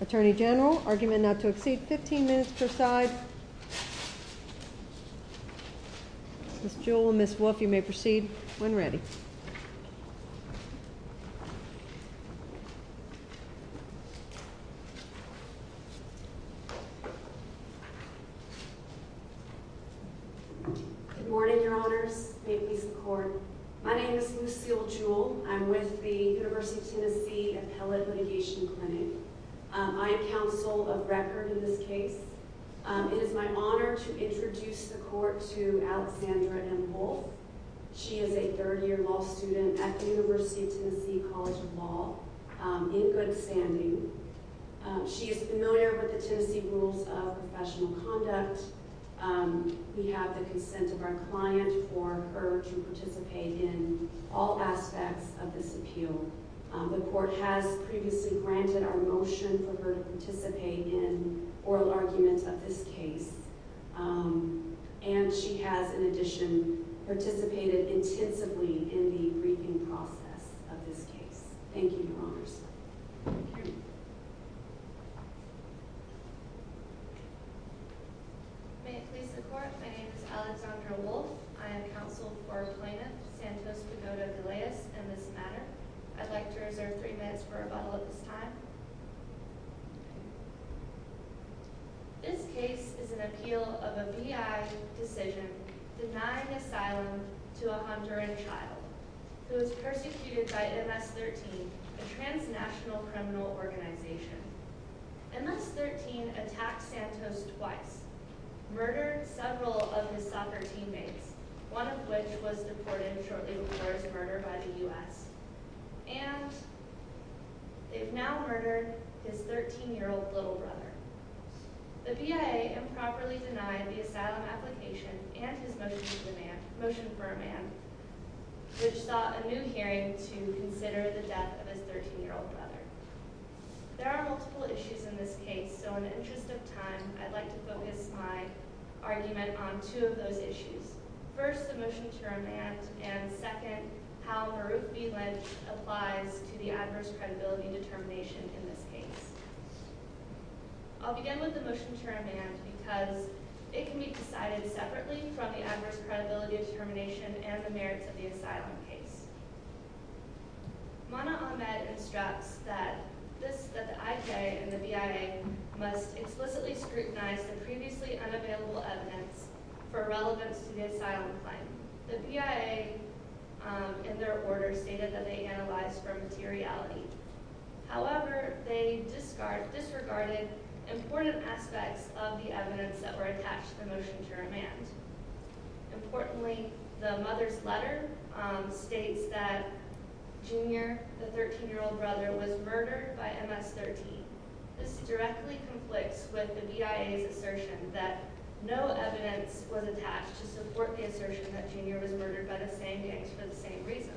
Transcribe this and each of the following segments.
Attorney General, argument not to exceed 15 minutes per side. Ms. Jewel and Ms. Wolfe, you may proceed when ready. Good morning, Your Honors. May it please the Court. My name is Lucille Jewel. I'm with the University of Tennessee Appellate Litigation Clinic. I am counsel of record in this case. It is my honor to introduce the Court to Alexandra M. Wolfe. She is a third-year law student at the University of Tennessee College of Law in good standing. She is familiar with the Tennessee Rules of Professional Conduct. We have the consent of our client for her to participate in all aspects of this appeal. The Court has previously granted our motion for her to participate in oral arguments of this case. And she has, in addition, participated intensively in the briefing process of this case. Thank you, Your Honors. Thank you. May it please the Court. My name is Alexandra Wolfe. I am counsel for plaintiff Santos Pagoada-Galeas in this matter. I'd like to reserve three minutes for rebuttal at this time. This case is an appeal of a VI decision denying asylum to a Honduran child who was persecuted by MS-13, a transnational criminal organization. MS-13 attacked Santos twice, murdered several of his soccer teammates, one of which was deported shortly before his murder by the U.S. And they've now murdered his 13-year-old little brother. The VA improperly denied the asylum application and his motion for remand, which sought a new hearing to consider the death of his 13-year-old brother. There are multiple issues in this case, so in the interest of time, I'd like to focus my argument on two of those issues. First, the motion to remand, and second, how Baroof v. Lynch applies to the adverse credibility determination in this case. I'll begin with the motion to remand because it can be decided separately from the adverse credibility determination and the merits of the asylum case. Mana Ahmed instructs that the IJ and the BIA must explicitly scrutinize the previously unavailable evidence for relevance to the asylum claim. The BIA, in their order, stated that they analyzed for materiality. However, they disregarded important aspects of the evidence that were attached to the motion to remand. Importantly, the mother's letter states that Junior, the 13-year-old brother, was murdered by MS-13. This directly conflicts with the BIA's assertion that no evidence was attached to support the assertion that Junior was murdered by the same gangs for the same reasons.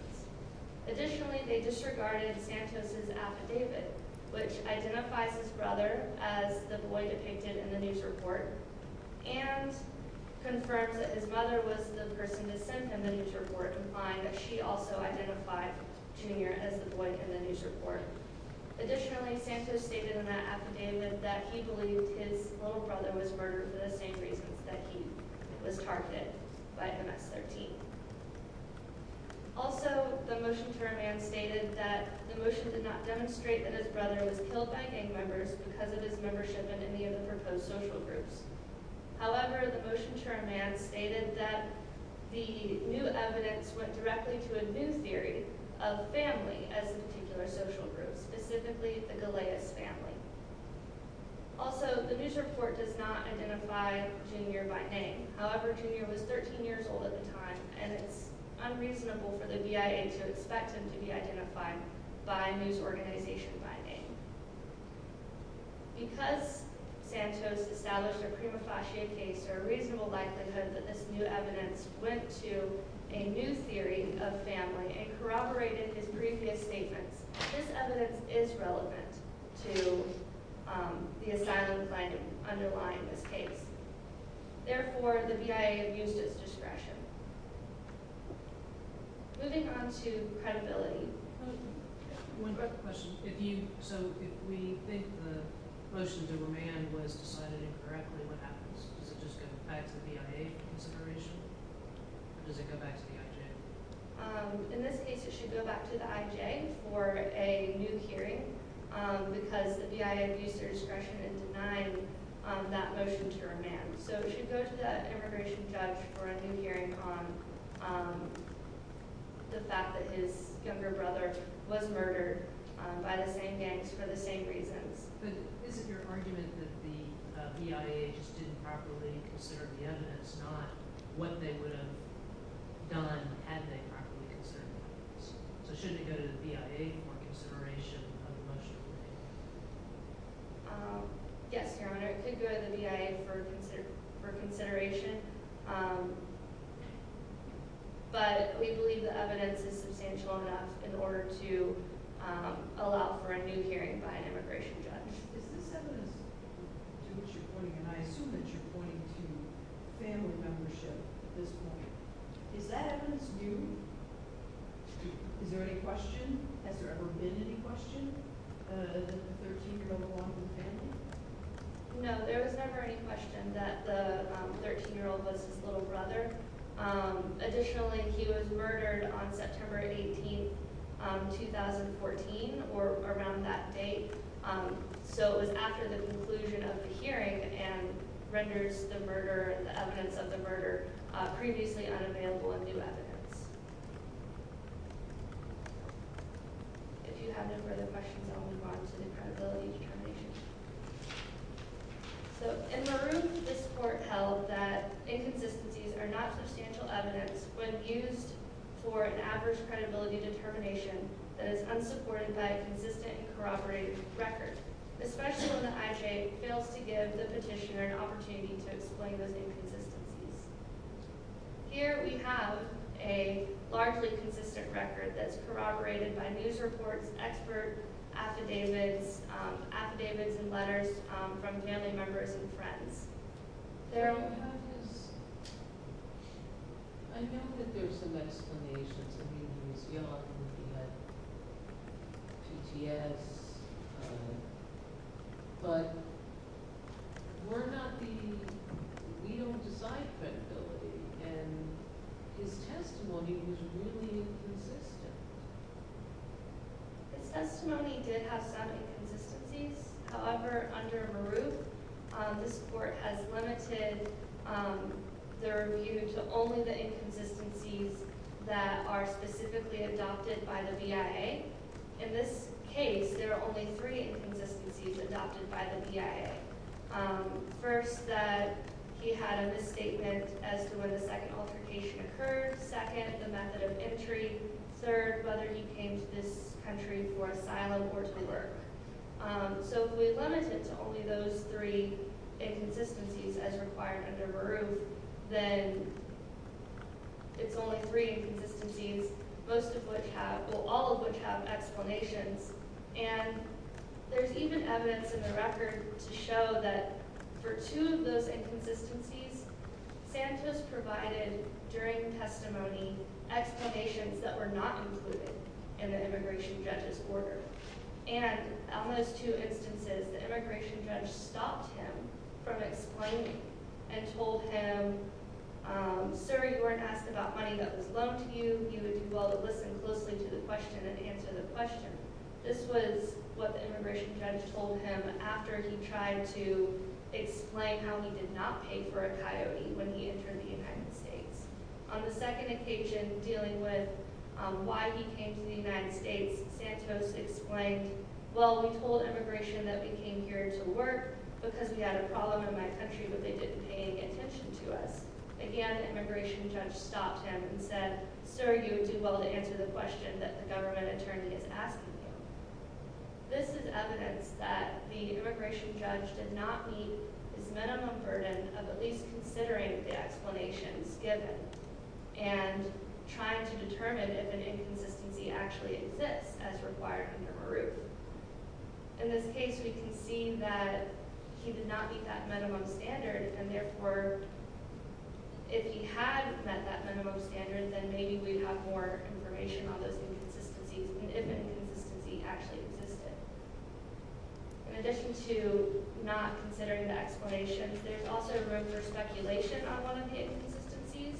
Additionally, they disregarded Santos' affidavit, which identifies his brother as the boy depicted in the news report. And, confirms that his mother was the person that sent him the news report, implying that she also identified Junior as the boy in the news report. Additionally, Santos stated in that affidavit that he believed his little brother was murdered for the same reasons that he was targeted by MS-13. Also, the motion to remand stated that the motion did not demonstrate that his brother was killed by gang members because of his membership in any of the proposed social groups. However, the motion to remand stated that the new evidence went directly to a new theory of family as a particular social group, specifically the Galeas family. Also, the news report does not identify Junior by name. However, Junior was 13 years old at the time, and it's unreasonable for the BIA to expect him to be identified by news organization by name. Because Santos established a prima facie case, there is a reasonable likelihood that this new evidence went to a new theory of family and corroborated his previous statements. This evidence is relevant to the asylum finding underlying this case. Therefore, the BIA abused its discretion. Moving on to credibility. One quick question. So, if we think the motion to remand was decided incorrectly, what happens? Does it just go back to the BIA for consideration, or does it go back to the IJ? In this case, it should go back to the IJ for a new hearing because the BIA abused their discretion in denying that motion to remand. So, it should go to the immigration judge for a new hearing on the fact that his younger brother was murdered by the same gangs for the same reasons. But isn't your argument that the BIA just didn't properly consider the evidence, not what they would have done had they properly considered the evidence? So, shouldn't it go to the BIA for consideration of the motion to remand? Yes, Your Honor. It could go to the BIA for consideration, but we believe the evidence is substantial enough in order to allow for a new hearing by an immigration judge. Is this evidence, to which you're pointing, and I assume that you're pointing to family membership at this point, is that evidence new? Is there any question? Has there ever been any question of the 13-year-old lawful family? No, there was never any question that the 13-year-old was his little brother. Additionally, he was murdered on September 18, 2014, or around that date. So, it was after the conclusion of the hearing and renders the murder and the evidence of the murder previously unavailable and new evidence. If you have no further questions, I'll move on to the credibility determination. So, in Marouf, this court held that inconsistencies are not substantial evidence when used for an average credibility determination that is unsupported by a consistent and corroborated record, especially when the IJ fails to give the petitioner an opportunity to explain those inconsistencies. Here we have a largely consistent record that's corroborated by news reports, expert affidavits, affidavits and letters from family members and friends. I know that there are some explanations. I mean, he was young, he had PTS, but we don't decide credibility, and his testimony was really inconsistent. His testimony did have some inconsistencies. However, under Marouf, this court has limited their review to only the inconsistencies that are specifically adopted by the BIA. In this case, there are only three inconsistencies adopted by the BIA. First, that he had a misstatement as to when the second altercation occurred. Second, the method of entry. Third, whether he came to this country for asylum or to work. So, if we limit it to only those three inconsistencies as required under Marouf, then it's only three inconsistencies, all of which have explanations. There's even evidence in the record to show that for two of those inconsistencies, Santos provided, during testimony, explanations that were not included in the immigration judge's order. And on those two instances, the immigration judge stopped him from explaining and told him, Sir, you weren't asked about money that was loaned to you. You would do well to listen closely to the question and answer the question. This was what the immigration judge told him after he tried to explain how he did not pay for a coyote when he entered the United States. On the second occasion, dealing with why he came to the United States, Santos explained, Well, we told immigration that we came here to work because we had a problem in my country, but they didn't pay any attention to us. Again, the immigration judge stopped him and said, Sir, you would do well to answer the question that the government attorney is asking you. This is evidence that the immigration judge did not meet his minimum burden of at least considering the explanations given and trying to determine if an inconsistency actually exists as required under Baruch. In this case, we can see that he did not meet that minimum standard, and therefore, if he had met that minimum standard, then maybe we'd have more information on those inconsistencies and if an inconsistency actually existed. In addition to not considering the explanations, there's also room for speculation on one of the inconsistencies,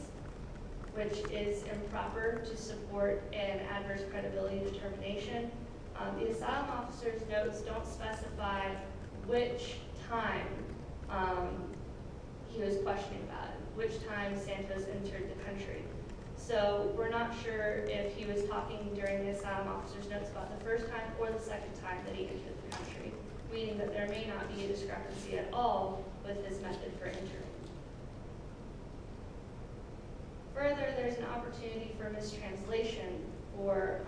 which is improper to support an adverse credibility determination. In addition, the asylum officer's notes don't specify which time he was questioning about, which time Santos entered the country. So we're not sure if he was talking during the asylum officer's notes about the first time or the second time that he entered the country, meaning that there may not be a discrepancy at all with his method for entering. Further, there's an opportunity for mistranslation for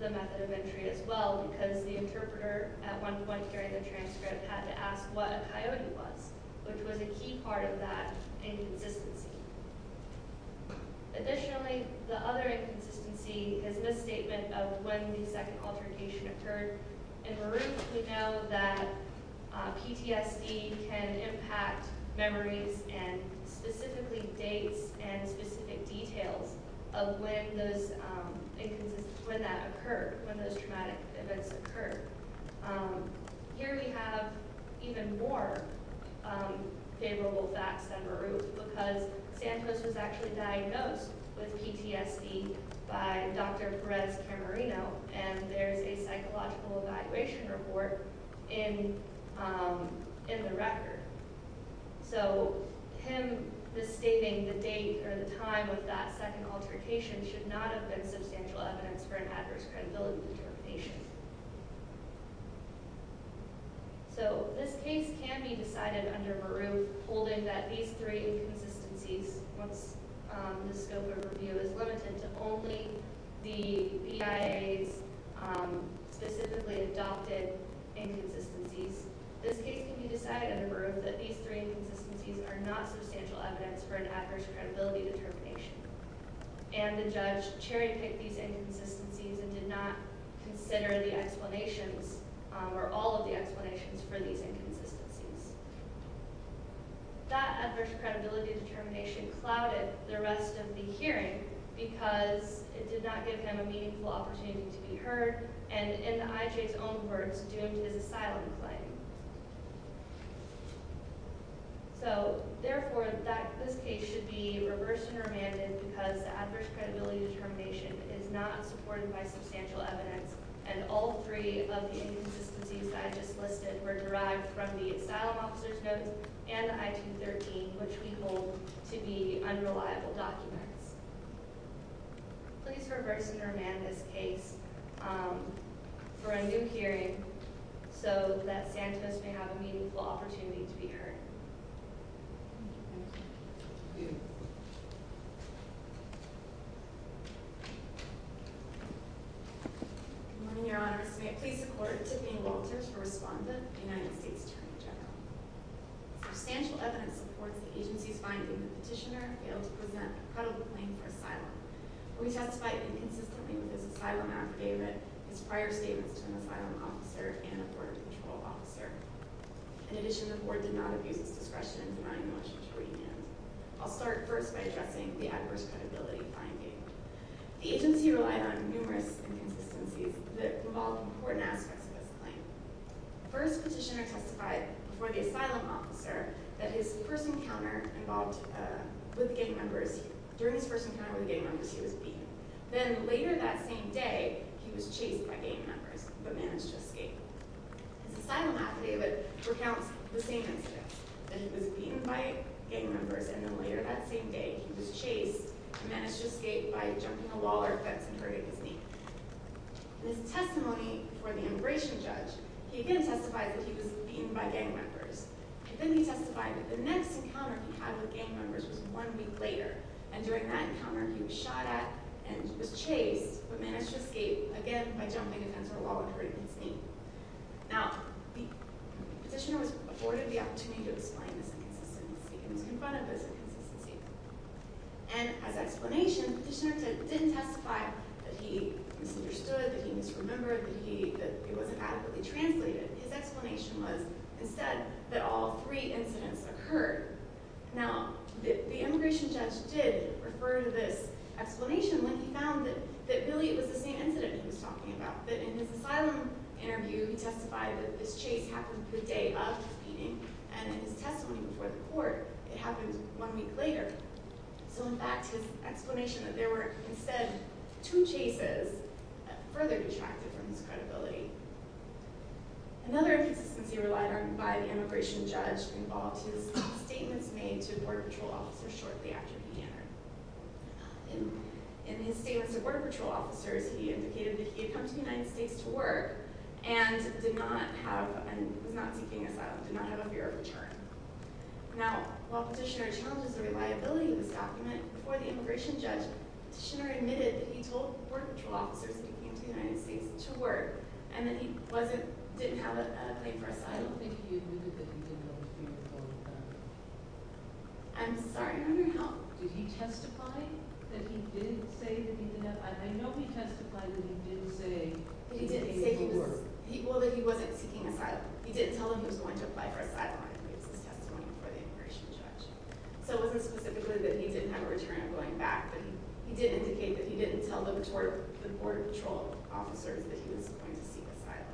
the method of entry as well, because the interpreter at one point during the transcript had to ask what a coyote was, which was a key part of that inconsistency. Additionally, the other inconsistency is misstatement of when the second altercation occurred. In Baruch, we know that PTSD can impact memories and specifically dates and specific details of when that occurred, when those traumatic events occurred. Here we have even more favorable facts than Baruch, because Santos was actually diagnosed with PTSD by Dr. Perez Camarino, and there's a psychological evaluation report in the record. So him misstating the date or the time of that second altercation should not have been substantial evidence for an adverse credibility determination. So this case can be decided under Baruch holding that these three inconsistencies, once the scope of review is limited to only the BIA's specifically adopted inconsistencies, this case can be decided under Baruch that these three inconsistencies are not substantial evidence for an adverse credibility determination. And the judge cherry-picked these inconsistencies and did not consider the explanations, or all of the explanations for these inconsistencies. That adverse credibility determination clouded the rest of the hearing, because it did not give him a meaningful opportunity to be heard, and in the IJ's own words, doomed his asylum claim. So, therefore, this case should be reversed and remanded because the adverse credibility determination is not supported by substantial evidence, and all three of the inconsistencies that I just listed were derived from the asylum officer's note and the I-213, which we hold to be unreliable documents. Please reverse and remand this case for a new hearing so that Santos may have a meaningful opportunity to be heard. Good morning, Your Honor. May it please the Court, Tiffany Walters for Respondent, United States Attorney General. Substantial evidence supports the agency's finding that Petitioner failed to present a credible claim for asylum. We testified inconsistently with his asylum affidavit, his prior statements to an asylum officer, and a border patrol officer. In addition, the Court did not abuse its discretion in denying the motion to remand. I'll start first by addressing the adverse credibility finding. The agency relied on numerous inconsistencies that revolved important aspects of this claim. First, Petitioner testified before the asylum officer that during his first encounter with gang members, he was beaten. Then, later that same day, he was chased by gang members, but managed to escape. His asylum affidavit recounts the same incident, that he was beaten by gang members, and then later that same day, he was chased, and managed to escape by jumping a wall or fence and hurting his knee. In his testimony before the immigration judge, he again testified that he was beaten by gang members. And then he testified that the next encounter he had with gang members was one week later, and during that encounter, he was shot at and was chased, but managed to escape, again, by jumping a fence or a wall and hurting his knee. Now, Petitioner was afforded the opportunity to explain this inconsistency, and was confronted with this inconsistency. And, as explanation, Petitioner didn't testify that he misunderstood, that he misremembered, that it wasn't adequately translated. His explanation was, instead, that all three incidents occurred. Now, the immigration judge did refer to this explanation when he found that really it was the same incident he was talking about, that in his asylum interview, he testified that this chase happened the day of his beating, and in his testimony before the court, it happened one week later. So, in fact, his explanation that there were, instead, two chases further detracted from his credibility. Another inconsistency relied on by the immigration judge involved his statements made to border patrol officers shortly after Petitioner. In his statements to border patrol officers, he indicated that he had come to the United States to work, and did not have, and was not seeking asylum, did not have a fear of return. Now, while Petitioner challenges the reliability of this document, before the immigration judge, Petitioner admitted that he told border patrol officers that he came to the United States to work, and that he wasn't, didn't have a claim for asylum. I don't think he admitted that he didn't have a fear of return. I'm sorry, I'm wondering how, did he testify that he did say that he did have, I know he testified that he did say that he did work. Well, that he wasn't seeking asylum. He didn't tell them he was going to apply for asylum in his testimony before the immigration judge. So it wasn't specifically that he didn't have a return of going back, but he did indicate that he didn't tell the border patrol officers that he was going to seek asylum.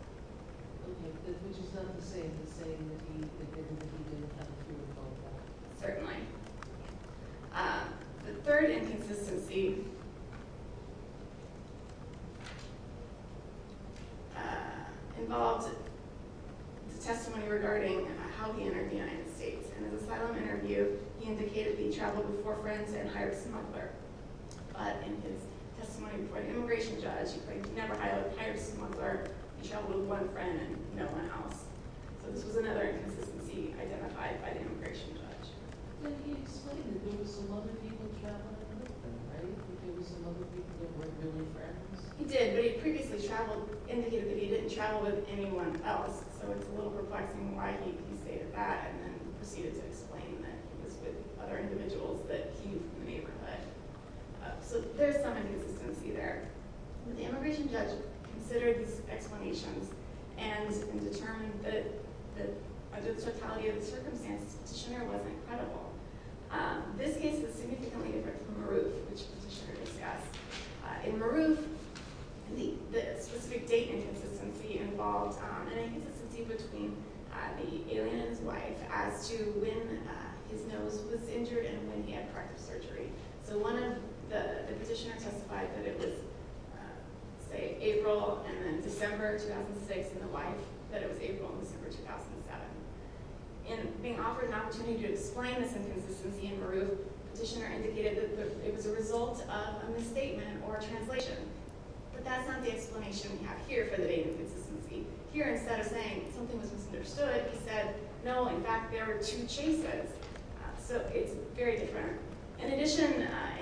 Okay, which is not to say the same that he admitted that he didn't have a fear of going back. Certainly. The third inconsistency involved his testimony regarding how he entered the United States. In his asylum interview, he indicated that he traveled with four friends and hired a smuggler. But in his testimony before the immigration judge, he claimed he never hired a smuggler. He traveled with one friend and no one else. So this was another inconsistency identified by the immigration judge. But he explained that there were some other people traveling with him, right? There were some other people that weren't really friends. He did, but he previously traveled, indicated that he didn't travel with anyone else. So it's a little perplexing why he stated that and then proceeded to explain that he was with other individuals that he knew from the neighborhood. So there's some inconsistency there. When the immigration judge considered these explanations and determined that under the totality of the circumstances, the petitioner wasn't credible. This case is significantly different from Marouf, which the petitioner discussed. In Marouf, the specific date inconsistency involved an inconsistency between the alien and his wife as to when his nose was injured and when he had corrective surgery. So one of the petitioners testified that it was, say, April and then December 2006, and the wife that it was April and December 2007. In being offered an opportunity to explain this inconsistency in Marouf, the petitioner indicated that it was a result of a misstatement or a translation. But that's not the explanation we have here for the date inconsistency. Here, instead of saying something was misunderstood, he said, no, in fact, there were two chases. So it's very different. In addition,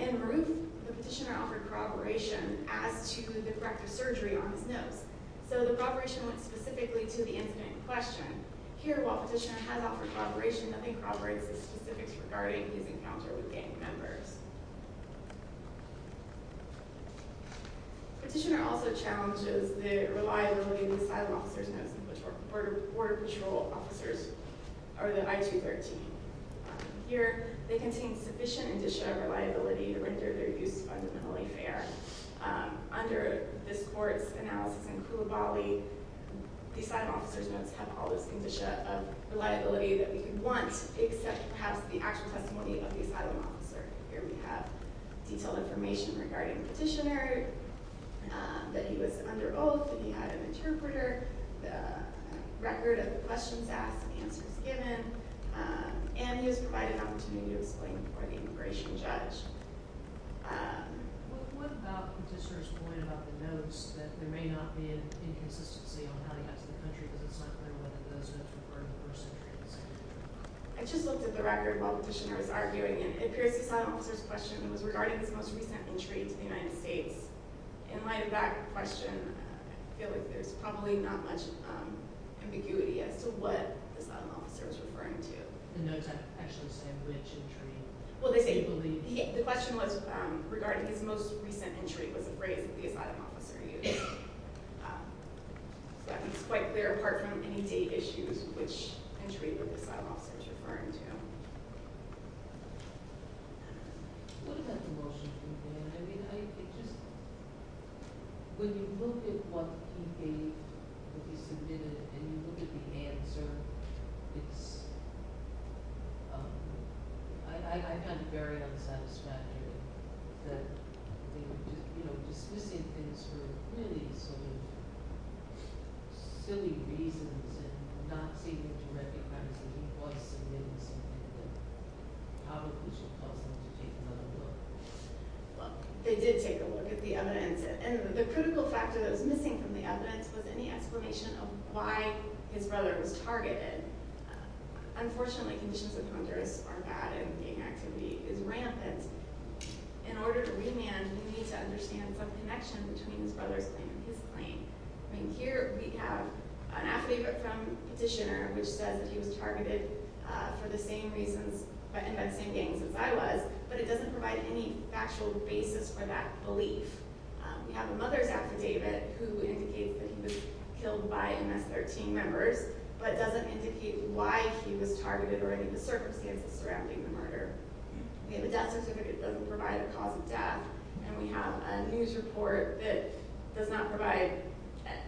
in Marouf, the petitioner offered corroboration as to the corrective surgery on his nose. So the corroboration went specifically to the incident in question. Here, while the petitioner has offered corroboration, nothing corroborates the specifics regarding his encounter with gang members. The petitioner also challenges the reliability of the asylum officer's nose, which were Border Patrol officers, or the I-213. Here, they contain sufficient indicia of reliability to render their use fundamentally fair. Under this court's analysis in Kulabali, the asylum officer's nose had all this indicia of reliability that we could want except perhaps the actual testimony of the asylum officer. Here we have detailed information regarding the petitioner, that he was under oath, that he had an interpreter, the record of questions asked and answers given, and he was provided an opportunity to explain before the immigration judge. What about the petitioner's point about the notes, that there may not be an inconsistency on how he got to the country, because it's not clear whether those notes were part of the first entry or the second entry? I just looked at the record while the petitioner was arguing, and it appears the asylum officer's question was regarding his most recent entry into the United States. In light of that question, I feel like there's probably not much ambiguity as to what the asylum officer was referring to. The notes actually say which entry? Well, they say the question was regarding his most recent entry was the phrase that the asylum officer used. So that makes it quite clear, apart from any date issues, which entry the asylum officer was referring to. What about the motion? When you look at what he gave, what he submitted, and you look at the answer, I find it very unsatisfactory that they were dismissing things for really silly reasons and not seeming to recognize that he was submitting something that probably should cause them to take another look. They did take a look at the evidence, and the critical factor that was missing from the evidence was any explanation of why his brother was targeted. Unfortunately, conditions in Honduras are bad, and gang activity is rampant. In order to remand, we need to understand some connection between his brother's claim and his claim. Here we have an affidavit from a petitioner which says that he was targeted for the same reasons, by the same gangs as I was, but it doesn't provide any factual basis for that belief. We have a mother's affidavit who indicates that he was killed by MS-13 members, but doesn't indicate why he was targeted or any of the circumstances surrounding the murder. We have a death certificate that doesn't provide a cause of death, and we have a news report that does not provide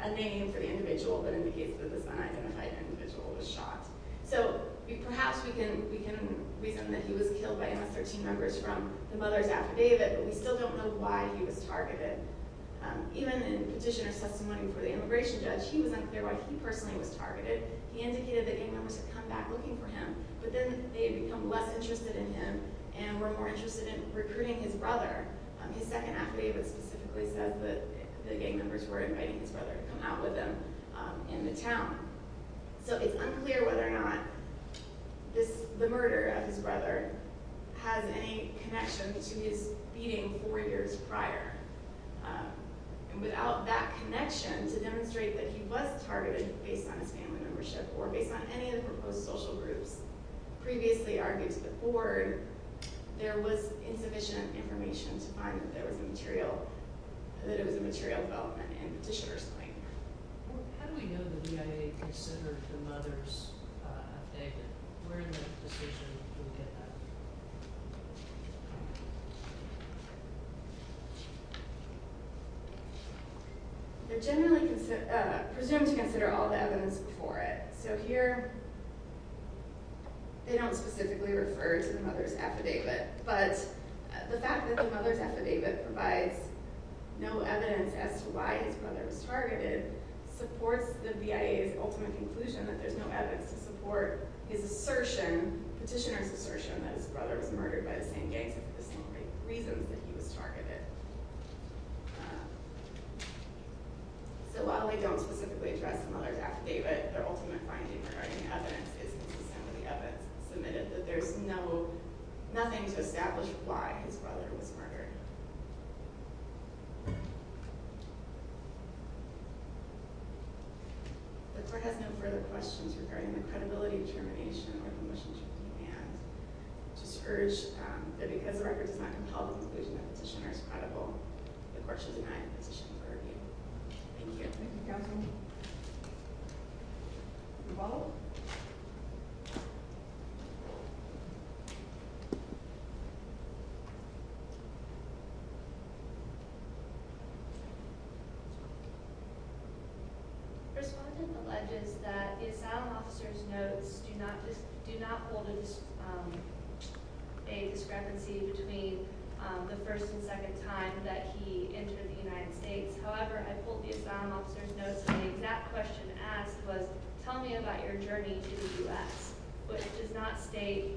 a name for the individual, but indicates that this unidentified individual was shot. Perhaps we can reason that he was killed by MS-13 members from the mother's affidavit, but we still don't know why he was targeted. Even in petitioner's testimony before the immigration judge, he was unclear why he personally was targeted. He indicated that gang members had come back looking for him, but then they had become less interested in him and were more interested in recruiting his brother. His second affidavit specifically says that the gang members were inviting his brother to come out with them in the town. So it's unclear whether or not the murder of his brother has any connection to his beating four years prior. And without that connection to demonstrate that he was targeted based on his family membership or based on any of the proposed social groups previously argued to the board, there was insufficient information to find that it was a material development and petitioner's claim. How do we know the DIA considered the mother's affidavit? Where in the petition do we get that? They're generally presumed to consider all the evidence before it. So here they don't specifically refer to the mother's affidavit, but the fact that the mother's affidavit provides no evidence as to why his brother was targeted supports the DIA's ultimate conclusion that there's no evidence to support his assertion, petitioner's assertion, that his brother was murdered by the same gang for the same reasons that he was targeted. So while they don't specifically address the mother's affidavit, their ultimate finding regarding evidence is that some of the evidence submitted that there's nothing to establish why his brother was murdered. The court has no further questions regarding the credibility of termination or commissions of demands. I just urge that because the record does not compel the conclusion that the petitioner is credible, the court should deny the petition for review. Thank you. You're welcome. The respondent alleges that the asylum officer's notes do not hold a discrepancy between the first and second time that he entered the United States. However, I pulled the asylum officer's notes and the exact question asked was, tell me about your journey to the U.S. But it does not state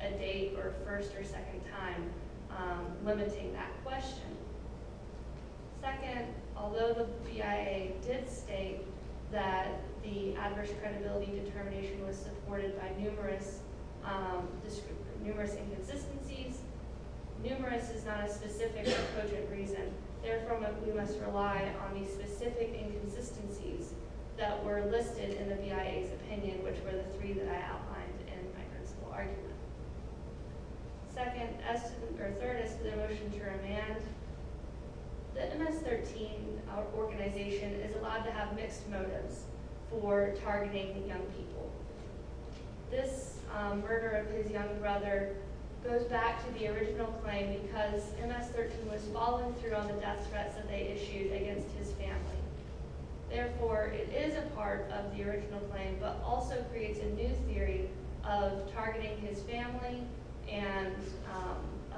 a date or first or second time limiting that question. Second, although the DIA did state that the adverse credibility determination was supported by numerous inconsistencies, numerous is not a specific or cogent reason. Therefore, we must rely on the specific inconsistencies that were listed in the DIA's opinion, which were the three that I outlined in my principle argument. Third, as to the motion to remand, the MS-13 organization is allowed to have mixed motives for targeting the young people. This murder of his young brother goes back to the original claim because MS-13 was following through on the death threats that they issued against his family. Therefore, it is a part of the original claim, but also creates a new theory of targeting his family and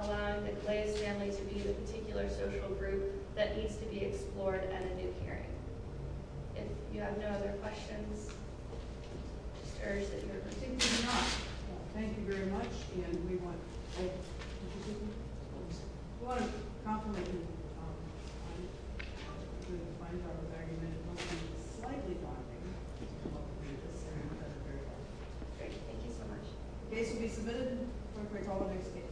allowing the Clay's family to be the particular social group that needs to be explored at a new hearing. If you have no other questions, I just urge that you're... Thank you very much, and we want... The case will be submitted. I'm going to call the next case.